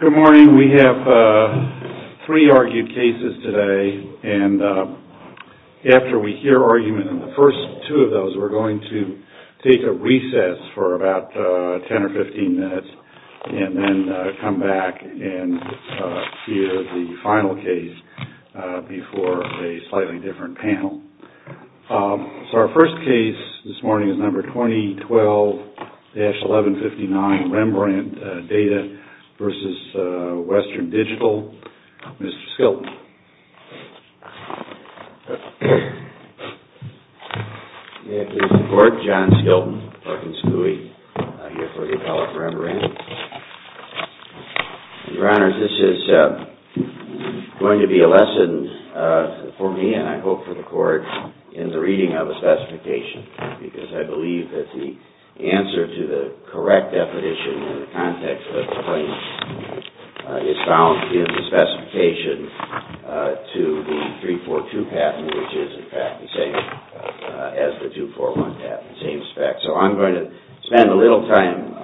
Good morning. We have three argued cases today, and after we hear argument in the first two of those, we're going to take a recess for about 10 or 15 minutes, and then come back and hear the final case before a slightly different panel. So our first case this morning is number 2012-1159, REMBRANDT DATA v. WESTERN DIGITAL. Mr. Skilton. May I please report? John Skilton, Parkins Coulee, here for the Appellate Rembrandt. Your Honor, this is going to be a lesson for me, and I hope for the Court, in the reading of the specification, because I believe that the answer to the correct definition in the context of the claim is found in the specification to the 342 patent, which is in fact the same as the 241 patent, the same spec. So I'm going to spend a little time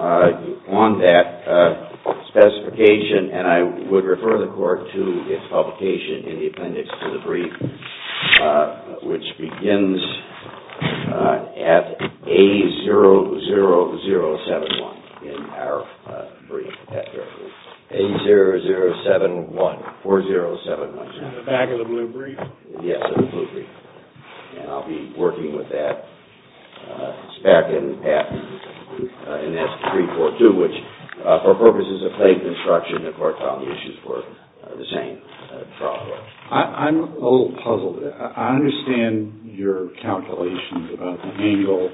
on that specification, and I would refer the Court to its publication in the appendix to the brief, which begins at A00071 in our brief. A0071, 4071. In the back of the blue brief? Yes, in the blue brief. And I'll be working with that spec and patent in that 342, which for purposes of faith and instruction, the Court found the issues were the same. I'm a little puzzled. I understand your calculations about the angle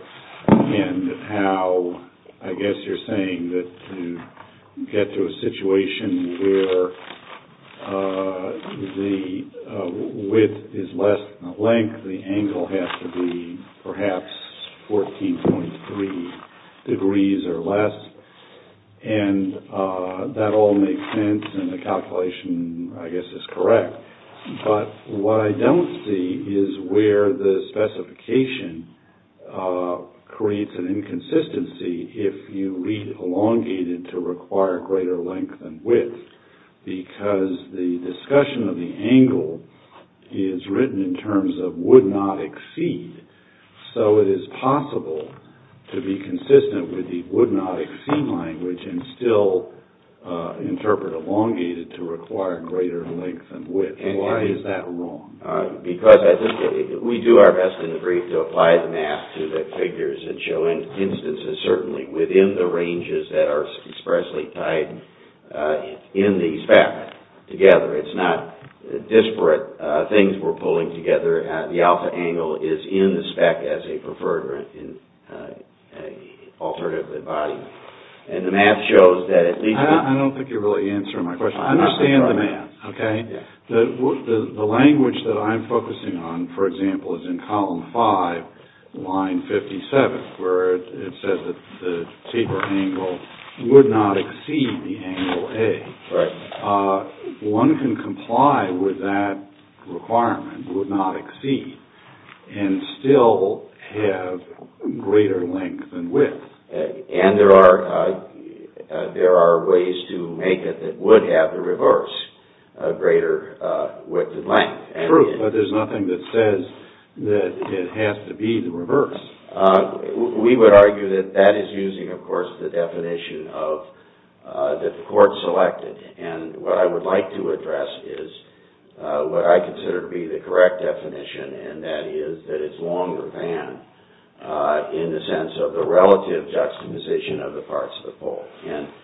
and how, I guess you're saying that to get to a situation where the width is less than the length, the angle has to be perhaps 14.3 degrees or less. And that all makes sense, and the calculation, I guess, is correct. But what I don't see is where the specification creates an inconsistency if you read elongated to require greater length and width, because the discussion of the angle is written in terms of would not exceed. So it is possible to be consistent with the would not exceed language and still interpret elongated to require greater length and width. Why is that wrong? We do our best in the brief to apply the math to the figures and show instances, certainly, within the ranges that are expressly tied in the spec together. It's not disparate things we're pulling together. The alpha angle is in the spec as a preferred alternative body. I don't think you're really answering my question. I understand the math. Okay. The language that I'm focusing on, for example, is in column five, line 57, where it says that the taper angle would not exceed the angle A. Right. One can comply with that requirement, would not exceed, and still have greater length and width. And there are ways to make it that would have the reverse, greater width and length. True, but there's nothing that says that it has to be the reverse. We would argue that that is using, of course, the definition that the court selected. And what I would like to address is what I consider to be the correct definition, and that is that it's longer than in the sense of the relative juxtaposition of the parts of the poll.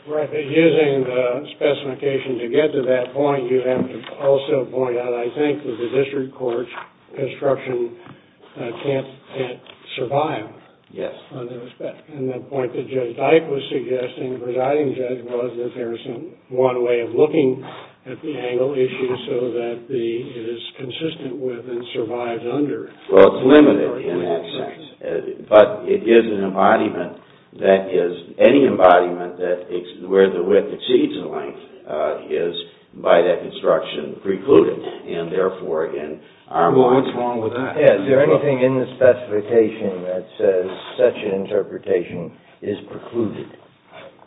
Right, but using the specification to get to that point, you have to also point out, I think, that the district court's construction can't survive. Yes. And the point that Judge Dyke was suggesting, presiding judge, was that there's one way of looking at the angle issue so that it is consistent with and survives under. Well, it's limited in that sense. But it is an embodiment that is – any embodiment where the width exceeds the length is, by that construction, precluded. And therefore, in our mind – Well, what's wrong with that? Is there anything in the specification that says such an interpretation is precluded?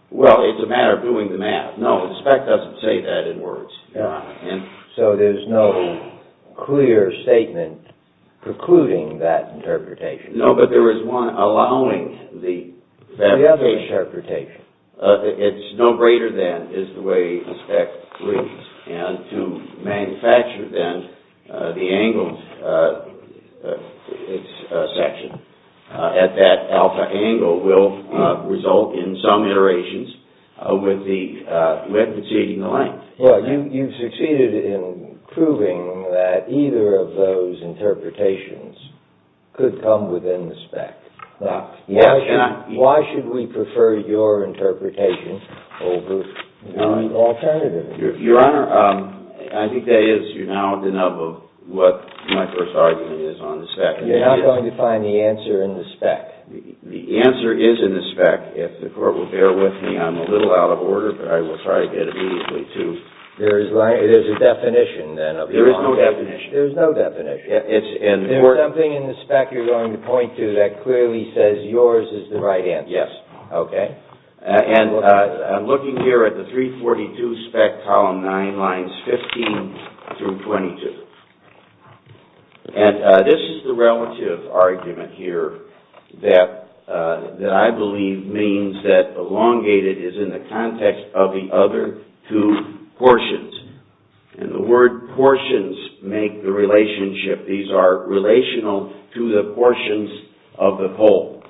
Well, it's a matter of doing the math. No, the spec doesn't say that in words. So there's no clear statement precluding that interpretation. No, but there is one allowing the – The other interpretation. It's no greater than is the way the spec reads. And to manufacture, then, the angle section at that alpha angle will result in some iterations with the width exceeding the length. Well, you've succeeded in proving that either of those interpretations could come within the spec. Why should we prefer your interpretation over the alternative? Your Honor, I think that is now enough of what my first argument is on the spec. You're not going to find the answer in the spec? The answer is in the spec. If the Court will bear with me, I'm a little out of order, but I will try to get it immediately to – There is a definition, then, of the – There is no definition. There is no definition. There is something in the spec you're going to point to that clearly says yours is the right answer. Yes. Okay. And I'm looking here at the 342 spec column 9, lines 15 through 22. And this is the relative argument here that I believe means that elongated is in the context of the other two portions. And the word portions make the relationship. These are relational to the portions of the whole.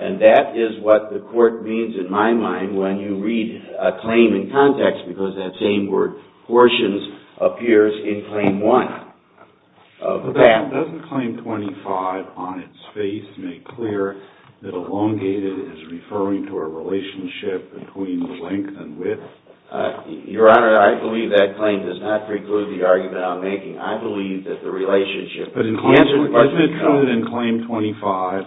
And that is what the Court means in my mind when you read a claim in context, because that same word, portions, appears in Claim 1. Doesn't Claim 25 on its face make clear that elongated is referring to a relationship between length and width? Your Honor, I believe that claim does not preclude the argument I'm making. I believe that the relationship – But isn't it true that in Claim 25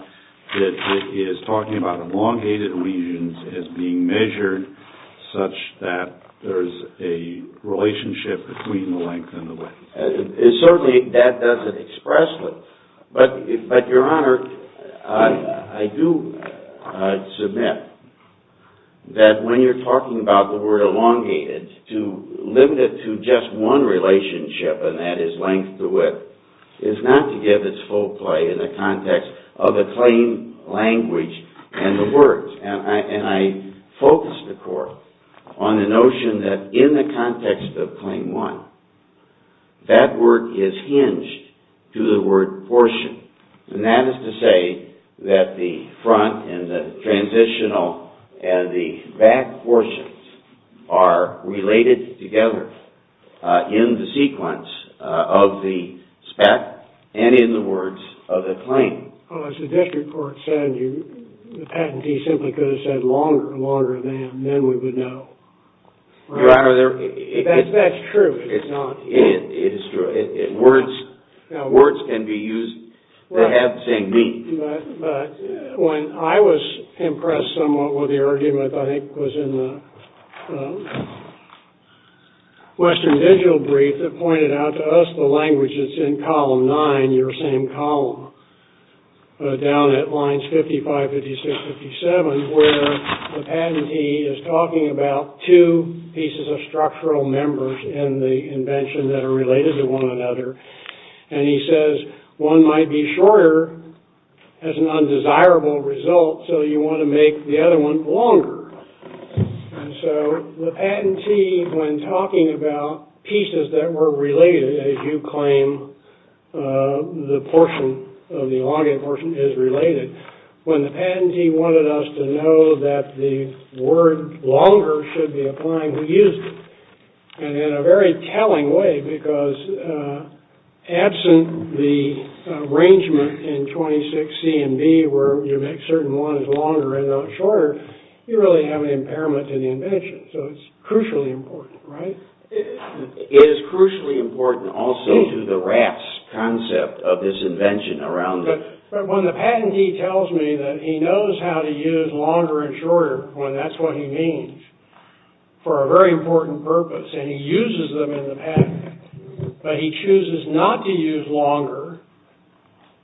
that it is talking about elongated regions as being measured such that there's a relationship between the length and the width? Certainly, that doesn't express it. But, Your Honor, I do submit that when you're talking about the word elongated, to limit it to just one relationship, and that is length to width, is not to give its full play in the context of the claim language and the words. And I focus the Court on the notion that in the context of Claim 1, that word is hinged to the word portion. And that is to say that the front and the transitional and the back portions are related together in the sequence of the spec and in the words of the claim. Well, as the district court said, the patentee simply could have said longer, longer than, then we would know. Your Honor, there – That's true. It's not – It is true. Words can be used that have the same meaning. But when I was impressed somewhat with the argument that I think was in the Western Digital brief that pointed out to us the language that's in Column 9, your same column, down at lines 55, 56, 57, where the patentee is talking about two pieces of structural members in the invention that are related to one another, and he says one might be shorter as an undesirable result, so you want to make the other one longer. And so the patentee, when talking about pieces that were related, as you claim the portion of the elongated portion is related, when the patentee wanted us to know that the word longer should be applying, we used it. And in a very telling way, because absent the arrangement in 26C and B where you make certain one is longer and not shorter, you really have an impairment to the invention, so it's crucially important, right? It is crucially important also to the rats' concept of this invention around the – But when the patentee tells me that he knows how to use longer and shorter when that's what he means for a very important purpose, and he uses them in the patent, but he chooses not to use longer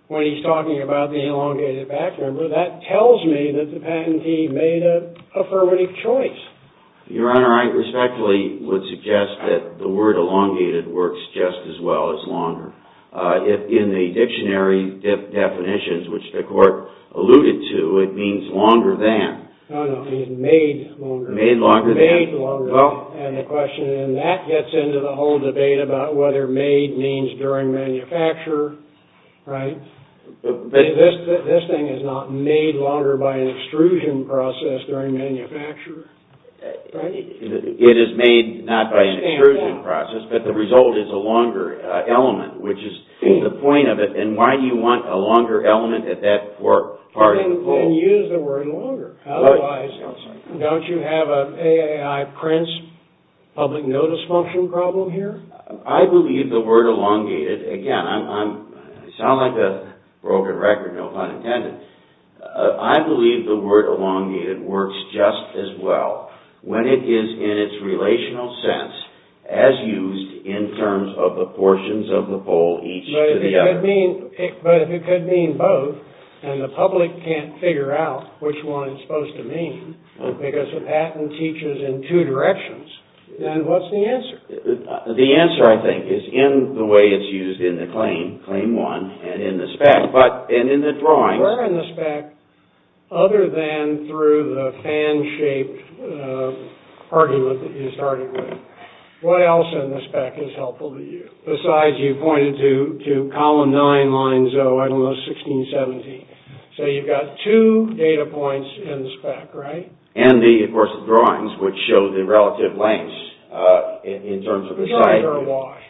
when he's talking about the elongated back member, that tells me that the patentee made an affirmative choice. Your Honor, I respectfully would suggest that the word elongated works just as well as longer. In the dictionary definitions, which the court alluded to, it means longer than. No, no, it means made longer. Made longer than. Made longer than. And the question in that gets into the whole debate about whether made means during manufacture, right? This thing is not made longer by an extrusion process during manufacture, right? It is made not by an extrusion process, but the result is a longer element, which is the point of it. And why do you want a longer element at that part of the whole? Then use the word longer. Otherwise, don't you have an AAI Prince public notice function problem here? I believe the word elongated – again, I sound like a broken record, no pun intended. I believe the word elongated works just as well. When it is in its relational sense, as used in terms of the portions of the bowl each to the other. But if it could mean both, and the public can't figure out which one it's supposed to mean, because the patent teaches in two directions, then what's the answer? The answer, I think, is in the way it's used in the claim, claim one, and in the spec. Where in the spec, other than through the fan-shaped argument that you started with, what else in the spec is helpful to you? Besides, you pointed to column nine, line zero, I don't know, 16, 17. So you've got two data points in the spec, right? And the, of course, drawings, which show the relative lengths in terms of the size. Drawings are a wash.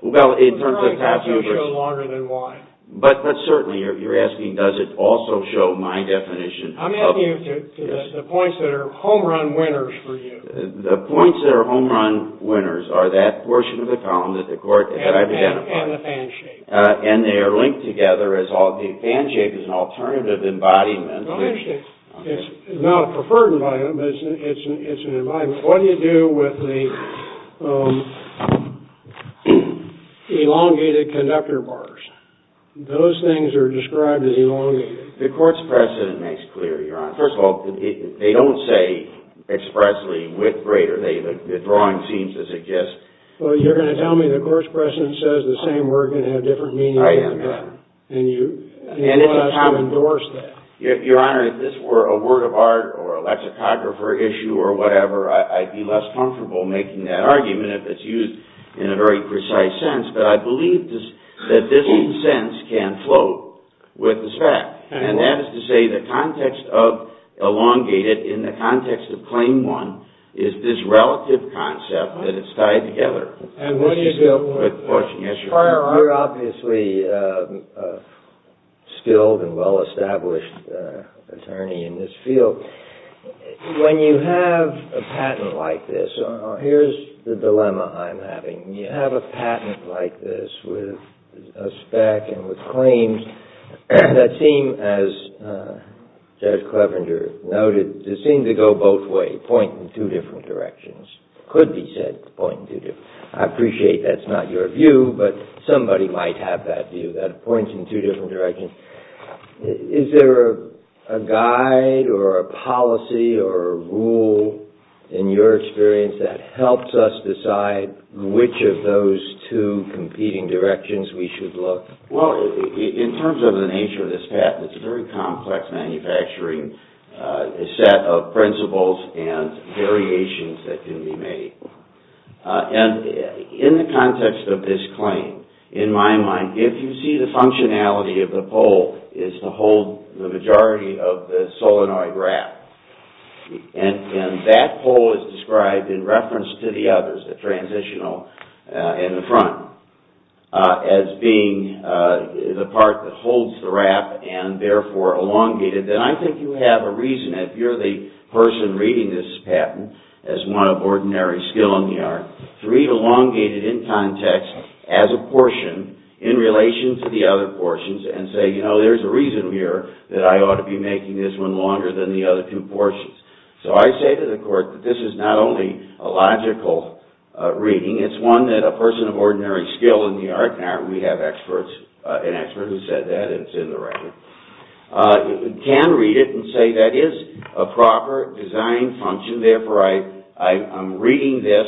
Drawings also show longer than Y. But certainly, you're asking, does it also show my definition? I'm asking you to the points that are home-run winners for you. The points that are home-run winners are that portion of the column that I've identified. And the fan-shape. And they are linked together. The fan-shape is an alternative embodiment. Well, interesting. It's not a preferred embodiment, but it's an embodiment. What do you do with the elongated conductor bars? Those things are described as elongated. The court's precedent makes clear, Your Honor. First of all, they don't say expressly width greater. The drawing seems to suggest. Well, you're going to tell me the court's precedent says the same word can have different meanings. I am, Your Honor. And you want us to endorse that. Your Honor, if this were a word of art or a lexicographer issue or whatever, I'd be less comfortable making that argument if it's used in a very precise sense. But I believe that this sentence can float with the fact. And that is to say the context of elongated in the context of claim one is this relative concept that it's tied together. Your Honor, you're obviously a skilled and well-established attorney in this field. When you have a patent like this, here's the dilemma I'm having. You have a patent like this with a spec and with claims that seem, as Judge Clevenger noted, that seem to go both ways, point in two different directions, could be said to point in two different directions. I appreciate that's not your view, but somebody might have that view, that it points in two different directions. Is there a guide or a policy or a rule in your experience that helps us decide which of those two competing directions we should look? Well, in terms of the nature of this patent, it's a very complex manufacturing set of principles and variations that can be made. And in the context of this claim, in my mind, if you see the functionality of the pole is to hold the majority of the solenoid wrap, and that pole is described in reference to the others, the transitional and the front, as being the part that holds the wrap and therefore elongated, then I think you have a reason, if you're the person reading this patent as one of ordinary skill in the art, to read elongated in context as a portion in relation to the other portions and say, you know, there's a reason here that I ought to be making this one longer than the other two portions. So I say to the court that this is not only a logical reading, it's one that a person of ordinary skill in the art, and we have an expert who said that, it's in the record, can read it and say that is a proper design function. Therefore, I'm reading this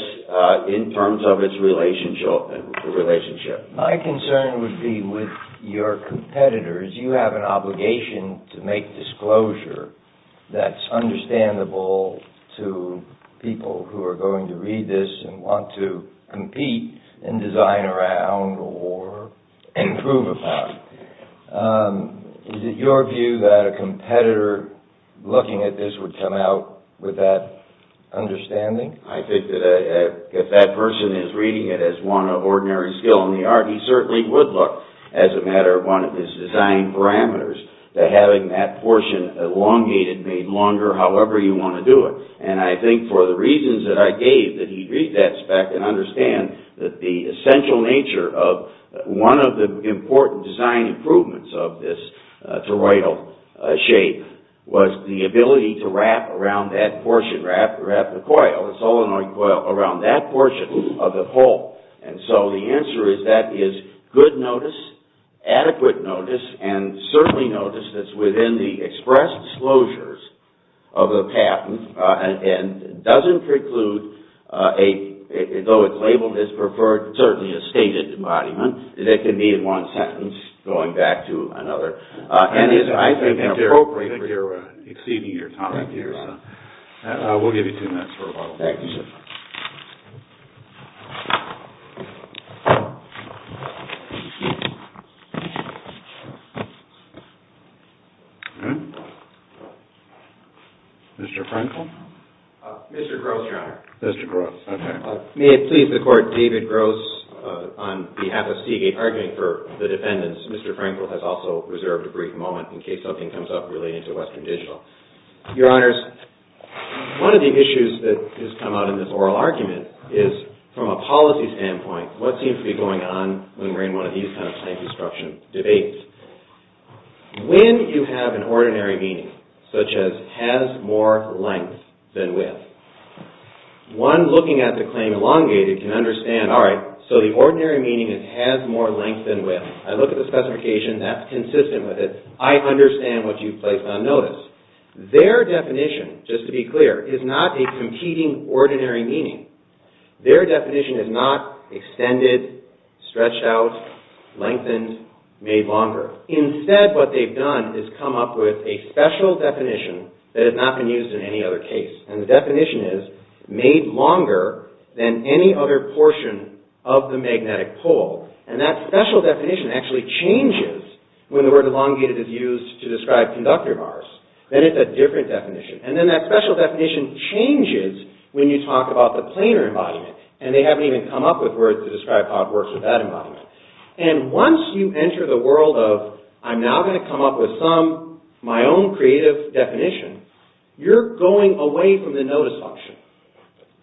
in terms of its relationship. My concern would be with your competitors. You have an obligation to make disclosure that's understandable to people who are going to read this and want to compete and design around or improve upon. Is it your view that a competitor looking at this would come out with that understanding? I think that if that person is reading it as one of ordinary skill in the art, he certainly would look, as a matter of one of his design parameters, to having that portion elongated, made longer, however you want to do it. And I think for the reasons that I gave, that he'd read that spec and understand that the essential nature of one of the important design improvements of this toroidal shape was the ability to wrap around that portion, wrap the coil, the solenoid coil, around that portion of the pole. And so the answer is that is good notice, adequate notice, and certainly notice that's within the expressed closures of the patent and doesn't preclude, though it's labeled as preferred, certainly a stated embodiment. It can be in one sentence going back to another. I think you're exceeding your time here. We'll give you two minutes for a vote. Thank you, sir. Mr. Frankel? Mr. Gross, Your Honor. Mr. Gross, okay. May it please the Court, David Gross, on behalf of Seagate, arguing for the defendants. Mr. Frankel has also reserved a brief moment in case something comes up relating to Western Digital. Your Honors, one of the issues that has come out in this oral argument is, from a policy standpoint, what seems to be going on when we're in one of these kind of claim construction debates? When you have an ordinary meaning, such as has more length than width, one looking at the claim elongated can understand, all right, so the ordinary meaning is has more length than width. I look at the specification, that's consistent with it. I understand what you've placed on notice. Their definition, just to be clear, is not a competing ordinary meaning. Their definition is not extended, stretched out, lengthened, made longer. Instead, what they've done is come up with a special definition that has not been used in any other case. And the definition is made longer than any other portion of the magnetic pole. And that special definition actually changes when the word elongated is used to describe conductor bars. Then it's a different definition. And then that special definition changes when you talk about the planar embodiment. And they haven't even come up with words to describe how it works with that embodiment. And once you enter the world of, I'm now going to come up with some, my own creative definition, you're going away from the notice function.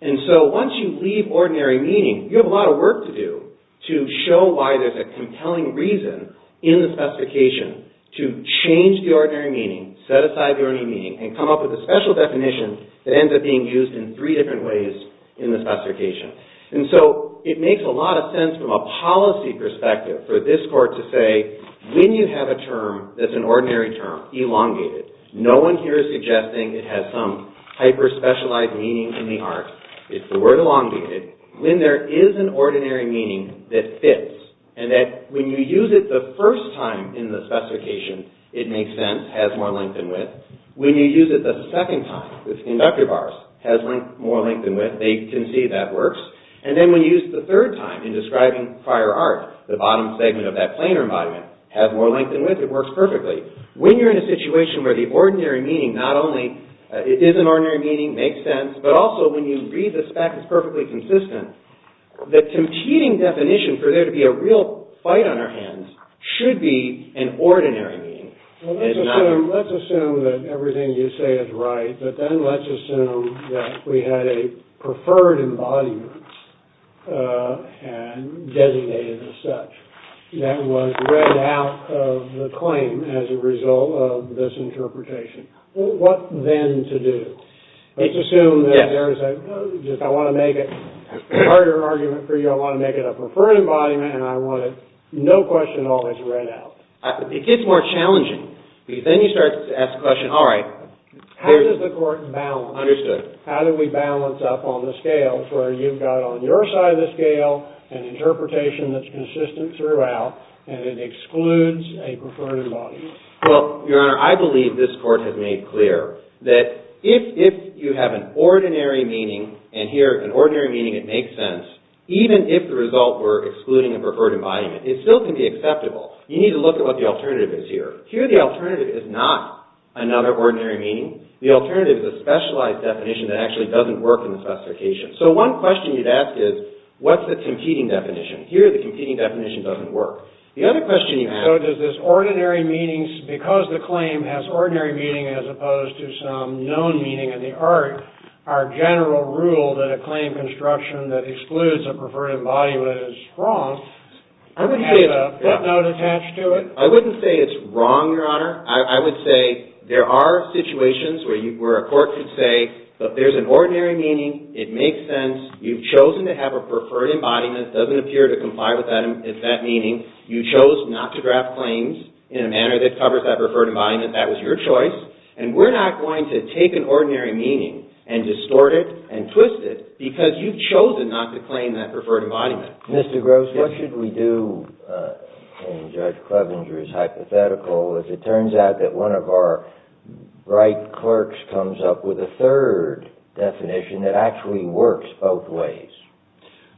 And so once you leave ordinary meaning, you have a lot of work to do to show why there's a compelling reason in the specification to change the ordinary meaning, set aside the ordinary meaning, and come up with a special definition that ends up being used in three different ways in the specification. And so it makes a lot of sense from a policy perspective for this court to say, when you have a term that's an ordinary term, elongated, no one here is suggesting it has some hyper-specialized meaning in the art. It's the word elongated. When there is an ordinary meaning that fits, and that when you use it the first time in the specification, it makes sense, has more length and width. When you use it the second time with conductor bars, has more length and width, they can see that works. And then when you use it the third time in describing prior art, the bottom segment of that planar embodiment, has more length and width, it works perfectly. When you're in a situation where the ordinary meaning not only is an ordinary meaning, makes sense, but also when you read the spec, it's perfectly consistent, the competing definition for there to be a real fight on our hands should be an ordinary meaning. Let's assume that everything you say is right, but then let's assume that we had a preferred embodiment and designated as such. That was read out of the claim as a result of this interpretation. What then to do? Let's assume that there is a, I want to make it a harder argument for you, I want to make it a preferred embodiment, and I want it, no question, always read out. It gets more challenging. Then you start to ask the question, all right. How does the court balance? Understood. You've got on your side of the scale an interpretation that's consistent throughout, and it excludes a preferred embodiment. Well, Your Honor, I believe this court has made clear that if you have an ordinary meaning, and here an ordinary meaning, it makes sense, even if the result were excluding a preferred embodiment, it still can be acceptable. You need to look at what the alternative is here. Here the alternative is not another ordinary meaning. The alternative is a specialized definition that actually doesn't work in the specification. So one question you'd ask is, what's the competing definition? Here the competing definition doesn't work. The other question you have. So does this ordinary meaning, because the claim has ordinary meaning as opposed to some known meaning in the art, our general rule that a claim construction that excludes a preferred embodiment is wrong, has a footnote attached to it? I wouldn't say it's wrong, Your Honor. I would say there are situations where a court could say, but there's an ordinary meaning. It makes sense. You've chosen to have a preferred embodiment. It doesn't appear to comply with that meaning. You chose not to draft claims in a manner that covers that preferred embodiment. That was your choice, and we're not going to take an ordinary meaning and distort it and twist it because you've chosen not to claim that preferred embodiment. Mr. Gross, what should we do in Judge Clevenger's hypothetical if it turns out that one of our right clerks comes up with a third definition that actually works both ways?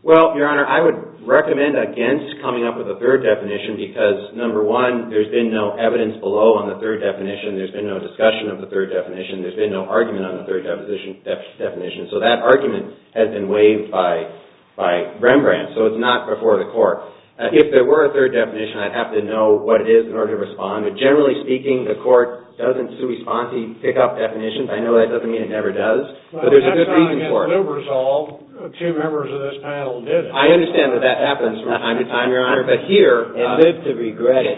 Well, Your Honor, I would recommend against coming up with a third definition because, number one, there's been no evidence below on the third definition. There's been no discussion of the third definition. There's been no argument on the third definition. So that argument has been waived by Rembrandt. So it's not before the court. If there were a third definition, I'd have to know what it is in order to respond. But generally speaking, the court doesn't sui sponsi, pick up definitions. I know that doesn't mean it never does, but there's a good reason for it. That's not going to get lube resolved. Two members of this panel did it. I understand that that happens from time to time, Your Honor, but here— And live to regret it.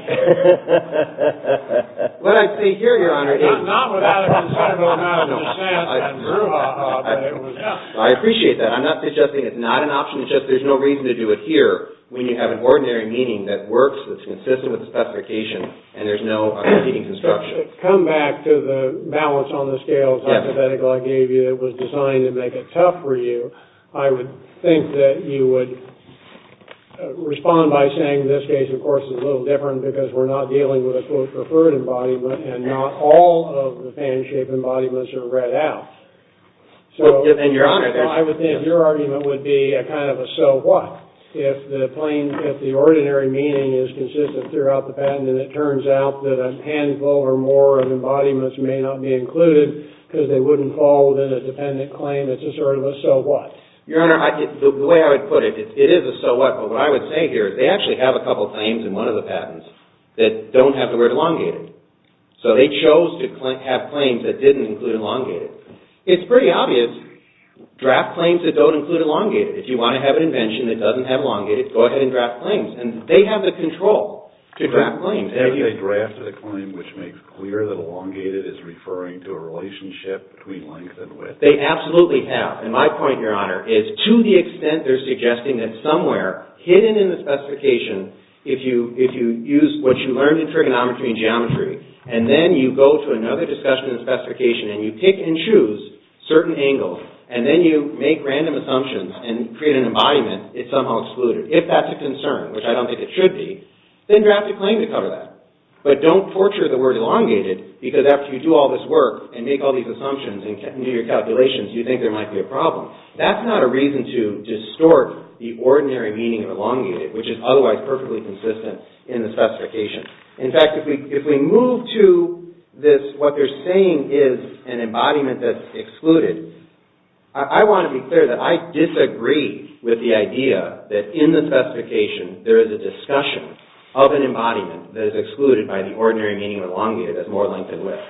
What I say here, Your Honor, is— I appreciate that. I'm not suggesting it's not an option. It's just there's no reason to do it here when you have an ordinary meaning that works, that's consistent with the specification, and there's no competing construction. To come back to the balance on the scales hypothetical I gave you that was designed to make it tough for you, I would think that you would respond by saying this case, of course, is a little different because we're not dealing with a, quote, preferred embodiment, and not all of the patent-shaped embodiments are read out. So— And, Your Honor, there's— I would think your argument would be a kind of a so what. If the plain, if the ordinary meaning is consistent throughout the patent and it turns out that a handful or more of embodiments may not be included because they wouldn't fall within a dependent claim, it's a sort of a so what. Your Honor, the way I would put it, it is a so what, but what I would say here is they actually have a couple claims in one of the patents that don't have the word elongated. So they chose to have claims that didn't include elongated. It's pretty obvious, draft claims that don't include elongated. If you want to have an invention that doesn't have elongated, go ahead and draft claims, and they have the control to draft claims. Have they drafted a claim which makes clear that elongated is referring to a relationship between length and width? They absolutely have, and my point, Your Honor, is to the extent they're suggesting that somewhere hidden in the specification, if you use what you learned in trigonometry and geometry, and then you go to another discussion and specification, and you pick and choose certain angles, and then you make random assumptions and create an embodiment, it's somehow excluded. If that's a concern, which I don't think it should be, then draft a claim to cover that. But don't torture the word elongated because after you do all this work and make all these assumptions and do your calculations, you think there might be a problem. That's not a reason to distort the ordinary meaning of elongated, which is otherwise perfectly consistent in the specification. In fact, if we move to this, what they're saying is an embodiment that's excluded, I want to be clear that I disagree with the idea that in the specification, there is a discussion of an embodiment that is excluded by the ordinary meaning of elongated as more length than width.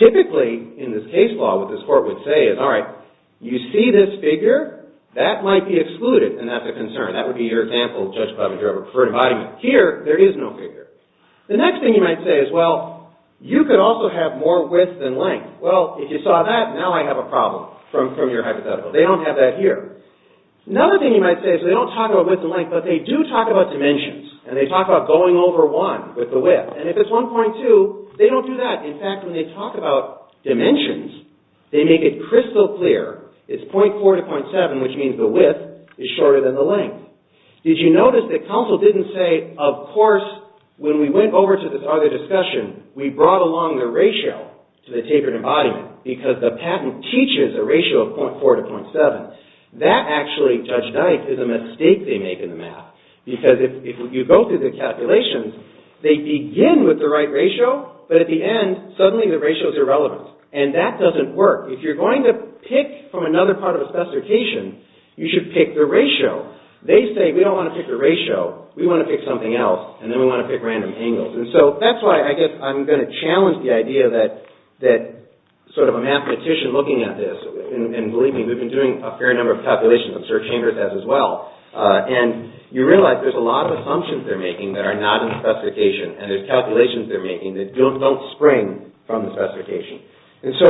Typically, in this case law, what this court would say is, all right, you see this figure, that might be excluded, and that's a concern. That would be your example, Judge Bubba, you have a preferred embodiment. Here, there is no figure. The next thing you might say is, well, you could also have more width than length. Well, if you saw that, now I have a problem from your hypothetical. They don't have that here. Another thing you might say is they don't talk about width and length, but they do talk about dimensions, and they talk about going over one with the width. And if it's 1.2, they don't do that. In fact, when they talk about dimensions, they make it crystal clear, it's .4 to .7, which means the width is shorter than the length. Did you notice that counsel didn't say, of course, when we went over to this other discussion, we brought along the ratio to the tapered embodiment, because the patent teaches a ratio of .4 to .7. That actually, Judge Dyke, is a mistake they make in the math, because if you go through the calculations, they begin with the right ratio, but at the end, suddenly the ratio is irrelevant. And that doesn't work. If you're going to pick from another part of a specification, you should pick the ratio. They say, we don't want to pick the ratio, we want to pick something else, and then we want to pick random angles. And so, that's why I guess I'm going to challenge the idea that, sort of a mathematician looking at this, and believe me, we've been doing a fair number of calculations on search hangers as well, and you realize there's a lot of assumptions they're making that are not in the specification, and there's calculations they're making that don't spring from the specification. And so,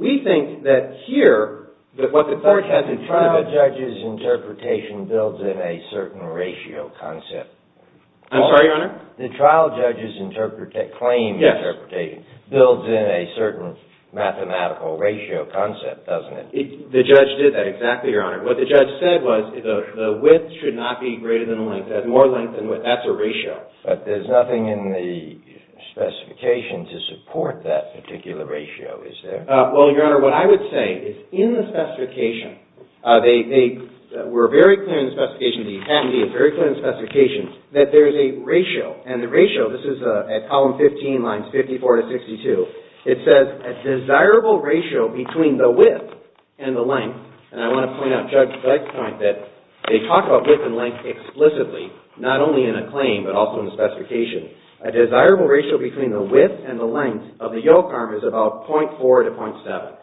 we think that here, that what the court has in front of it... The trial judge's interpretation builds in a certain ratio concept. I'm sorry, Your Honor? The trial judge's claim interpretation builds in a certain mathematical ratio concept, doesn't it? The judge did that exactly, Your Honor. What the judge said was, the width should not be greater than the length. That's more length than width. That's a ratio. But there's nothing in the specification to support that particular ratio, is there? Well, Your Honor, what I would say is, in the specification, they were very clear in the specification, the academy is very clear in the specification, that there is a ratio. And the ratio, this is at column 15, lines 54 to 62, it says, a desirable ratio between the width and the length, and I want to point out Judge Blythe's point, that they talk about width and length explicitly, not only in a claim, but also in the specification. A desirable ratio between the width and the length of the yoke arm is about 0.4 to 0.7.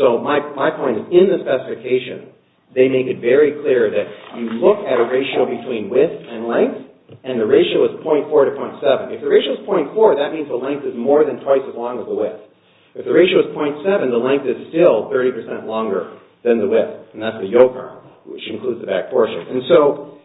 So, my point is, in the specification, they make it very clear that you look at a ratio between width and length, and the ratio is 0.4 to 0.7. If the ratio is 0.4, that means the length is more than twice as long as the width. If the ratio is 0.7, the length is still 30% longer than the width, and that's the yoke arm, which includes the back portion. And so,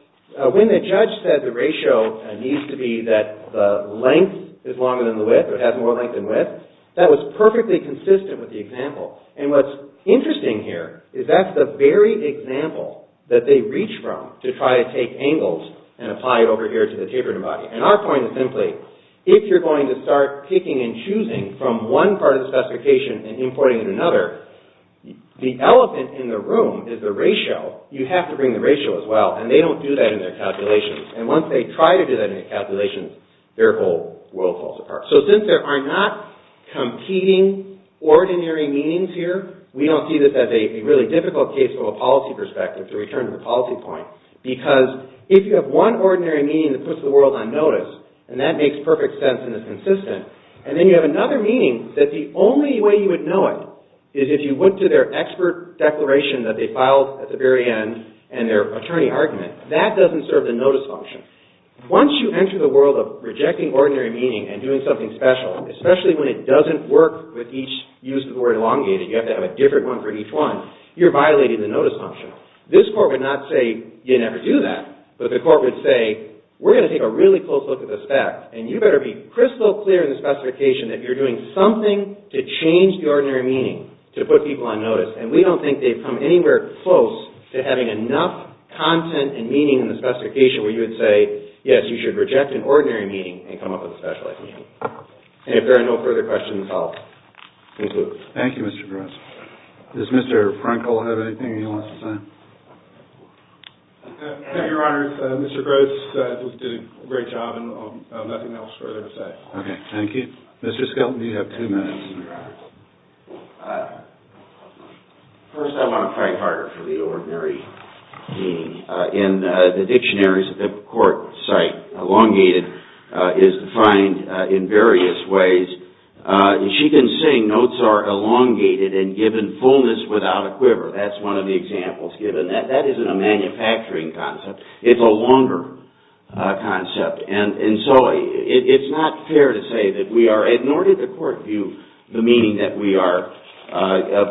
when the judge said the ratio needs to be that the length is longer than the width, or has more length than width, that was perfectly consistent with the example. And what's interesting here, is that's the very example that they reach from to try to take angles and apply over here to the tapering body. And our point is simply, if you're going to start picking and choosing from one part of the specification and importing in another, the elephant in the room is the ratio. You have to bring the ratio as well, and they don't do that in their calculations. And once they try to do that in their calculations, their whole world falls apart. So, since there are not competing ordinary meanings here, we don't see this as a really difficult case for a policy perspective to return to the policy point, because if you have one ordinary meaning that puts the world on notice, and that makes perfect sense and is consistent, and then you have another meaning that the only way you would know it is if you went to their expert declaration that they filed at the very end and their attorney argument. That doesn't serve the notice function. Once you enter the world of rejecting ordinary meaning and doing something special, especially when it doesn't work with each use of the word elongated, you have to have a different one for each one, you're violating the notice function. This court would not say, you never do that. But the court would say, we're going to take a really close look at this fact, and you better be crystal clear in the specification that you're doing something to change the ordinary meaning to put people on notice. And we don't think they've come anywhere close to having enough content and meaning in the specification where you would say, yes, you should reject an ordinary meaning and come up with a specialized meaning. And if there are no further questions, I'll conclude. Thank you, Mr. Gross. Does Mr. Frankel have anything he wants to say? Thank you, Your Honor. Mr. Gross did a great job and nothing else further to say. Okay, thank you. Mr. Skelton, you have two minutes. First, I want to fight harder for the ordinary meaning. In the dictionaries, the court site, elongated is defined in various ways. As she can sing, notes are elongated and given fullness without a quiver. That's one of the examples given. That isn't a manufacturing concept. It's a longer concept. And so it's not fair to say that we are, nor did the court view the meaning that we are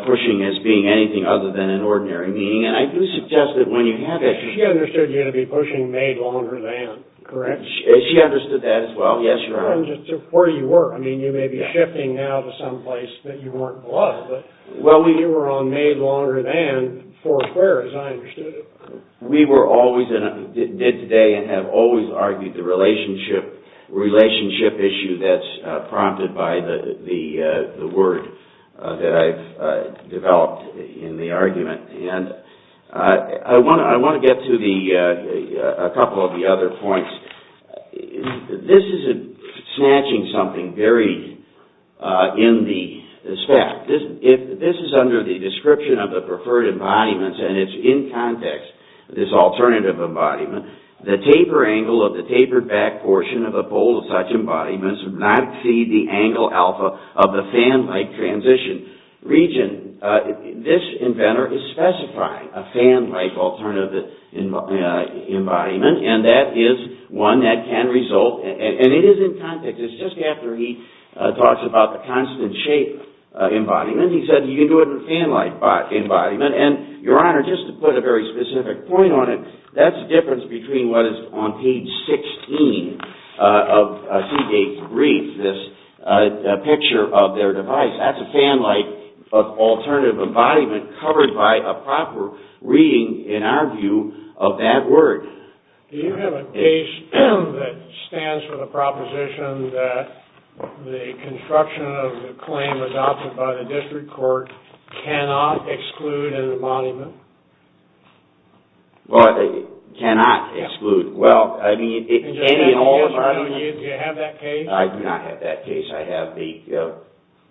pushing as being anything other than an ordinary meaning. And I do suggest that when you have that... She understood you to be pushing made longer than, correct? She understood that as well. Yes, Your Honor. Where you were. I mean, you may be shifting now to someplace that you weren't before. Well, you were on made longer than for fair, as I understood it. We were always, did today, and have always argued the relationship issue that's prompted by the word that I've developed in the argument. And I want to get to a couple of the other points. This is snatching something very in the spec. This is under the description of the preferred embodiments, and it's in context, this alternative embodiment. The taper angle of the tapered back portion of a pole of such embodiments would not exceed the angle alpha of the fan-like transition region. This inventor is specifying a fan-like alternative embodiment, and that is one that can result, and it is in context. It's just after he talks about the constant shape embodiment. He said you can do it with a fan-like embodiment. And, Your Honor, just to put a very specific point on it, that's the difference between what is on page 16 of Seagate's brief, this picture of their device. That's a fan-like alternative embodiment covered by a proper reading, in our view, of that word. Do you have a case that stands for the proposition that the construction of the claim adopted by the district court cannot exclude an embodiment? Well, it cannot exclude. Do you have that case? I do not have that case. I have the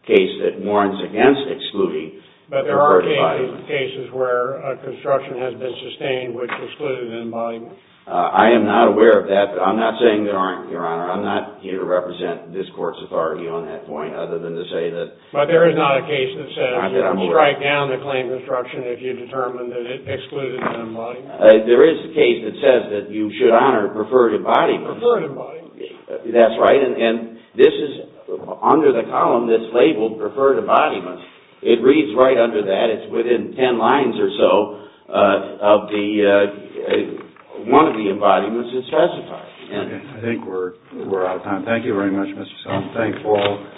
case that warns against excluding. But there are cases where a construction has been sustained which excludes an embodiment. I am not aware of that. I'm not saying there aren't, Your Honor. I'm not here to represent this Court's authority on that point, other than to say that... But there is not a case that says you can strike down the claim construction if you determine that it excludes an embodiment. There is a case that says that you should honor prefer to embodiment. Prefer to embodiment. That's right. And this is under the column that's labeled prefer to embodiment. It reads right under that. It's within ten lines or so of the... One of the embodiments is specified. Okay. I think we're out of time. Thank you very much, Mr. Sullivan. Thank you all.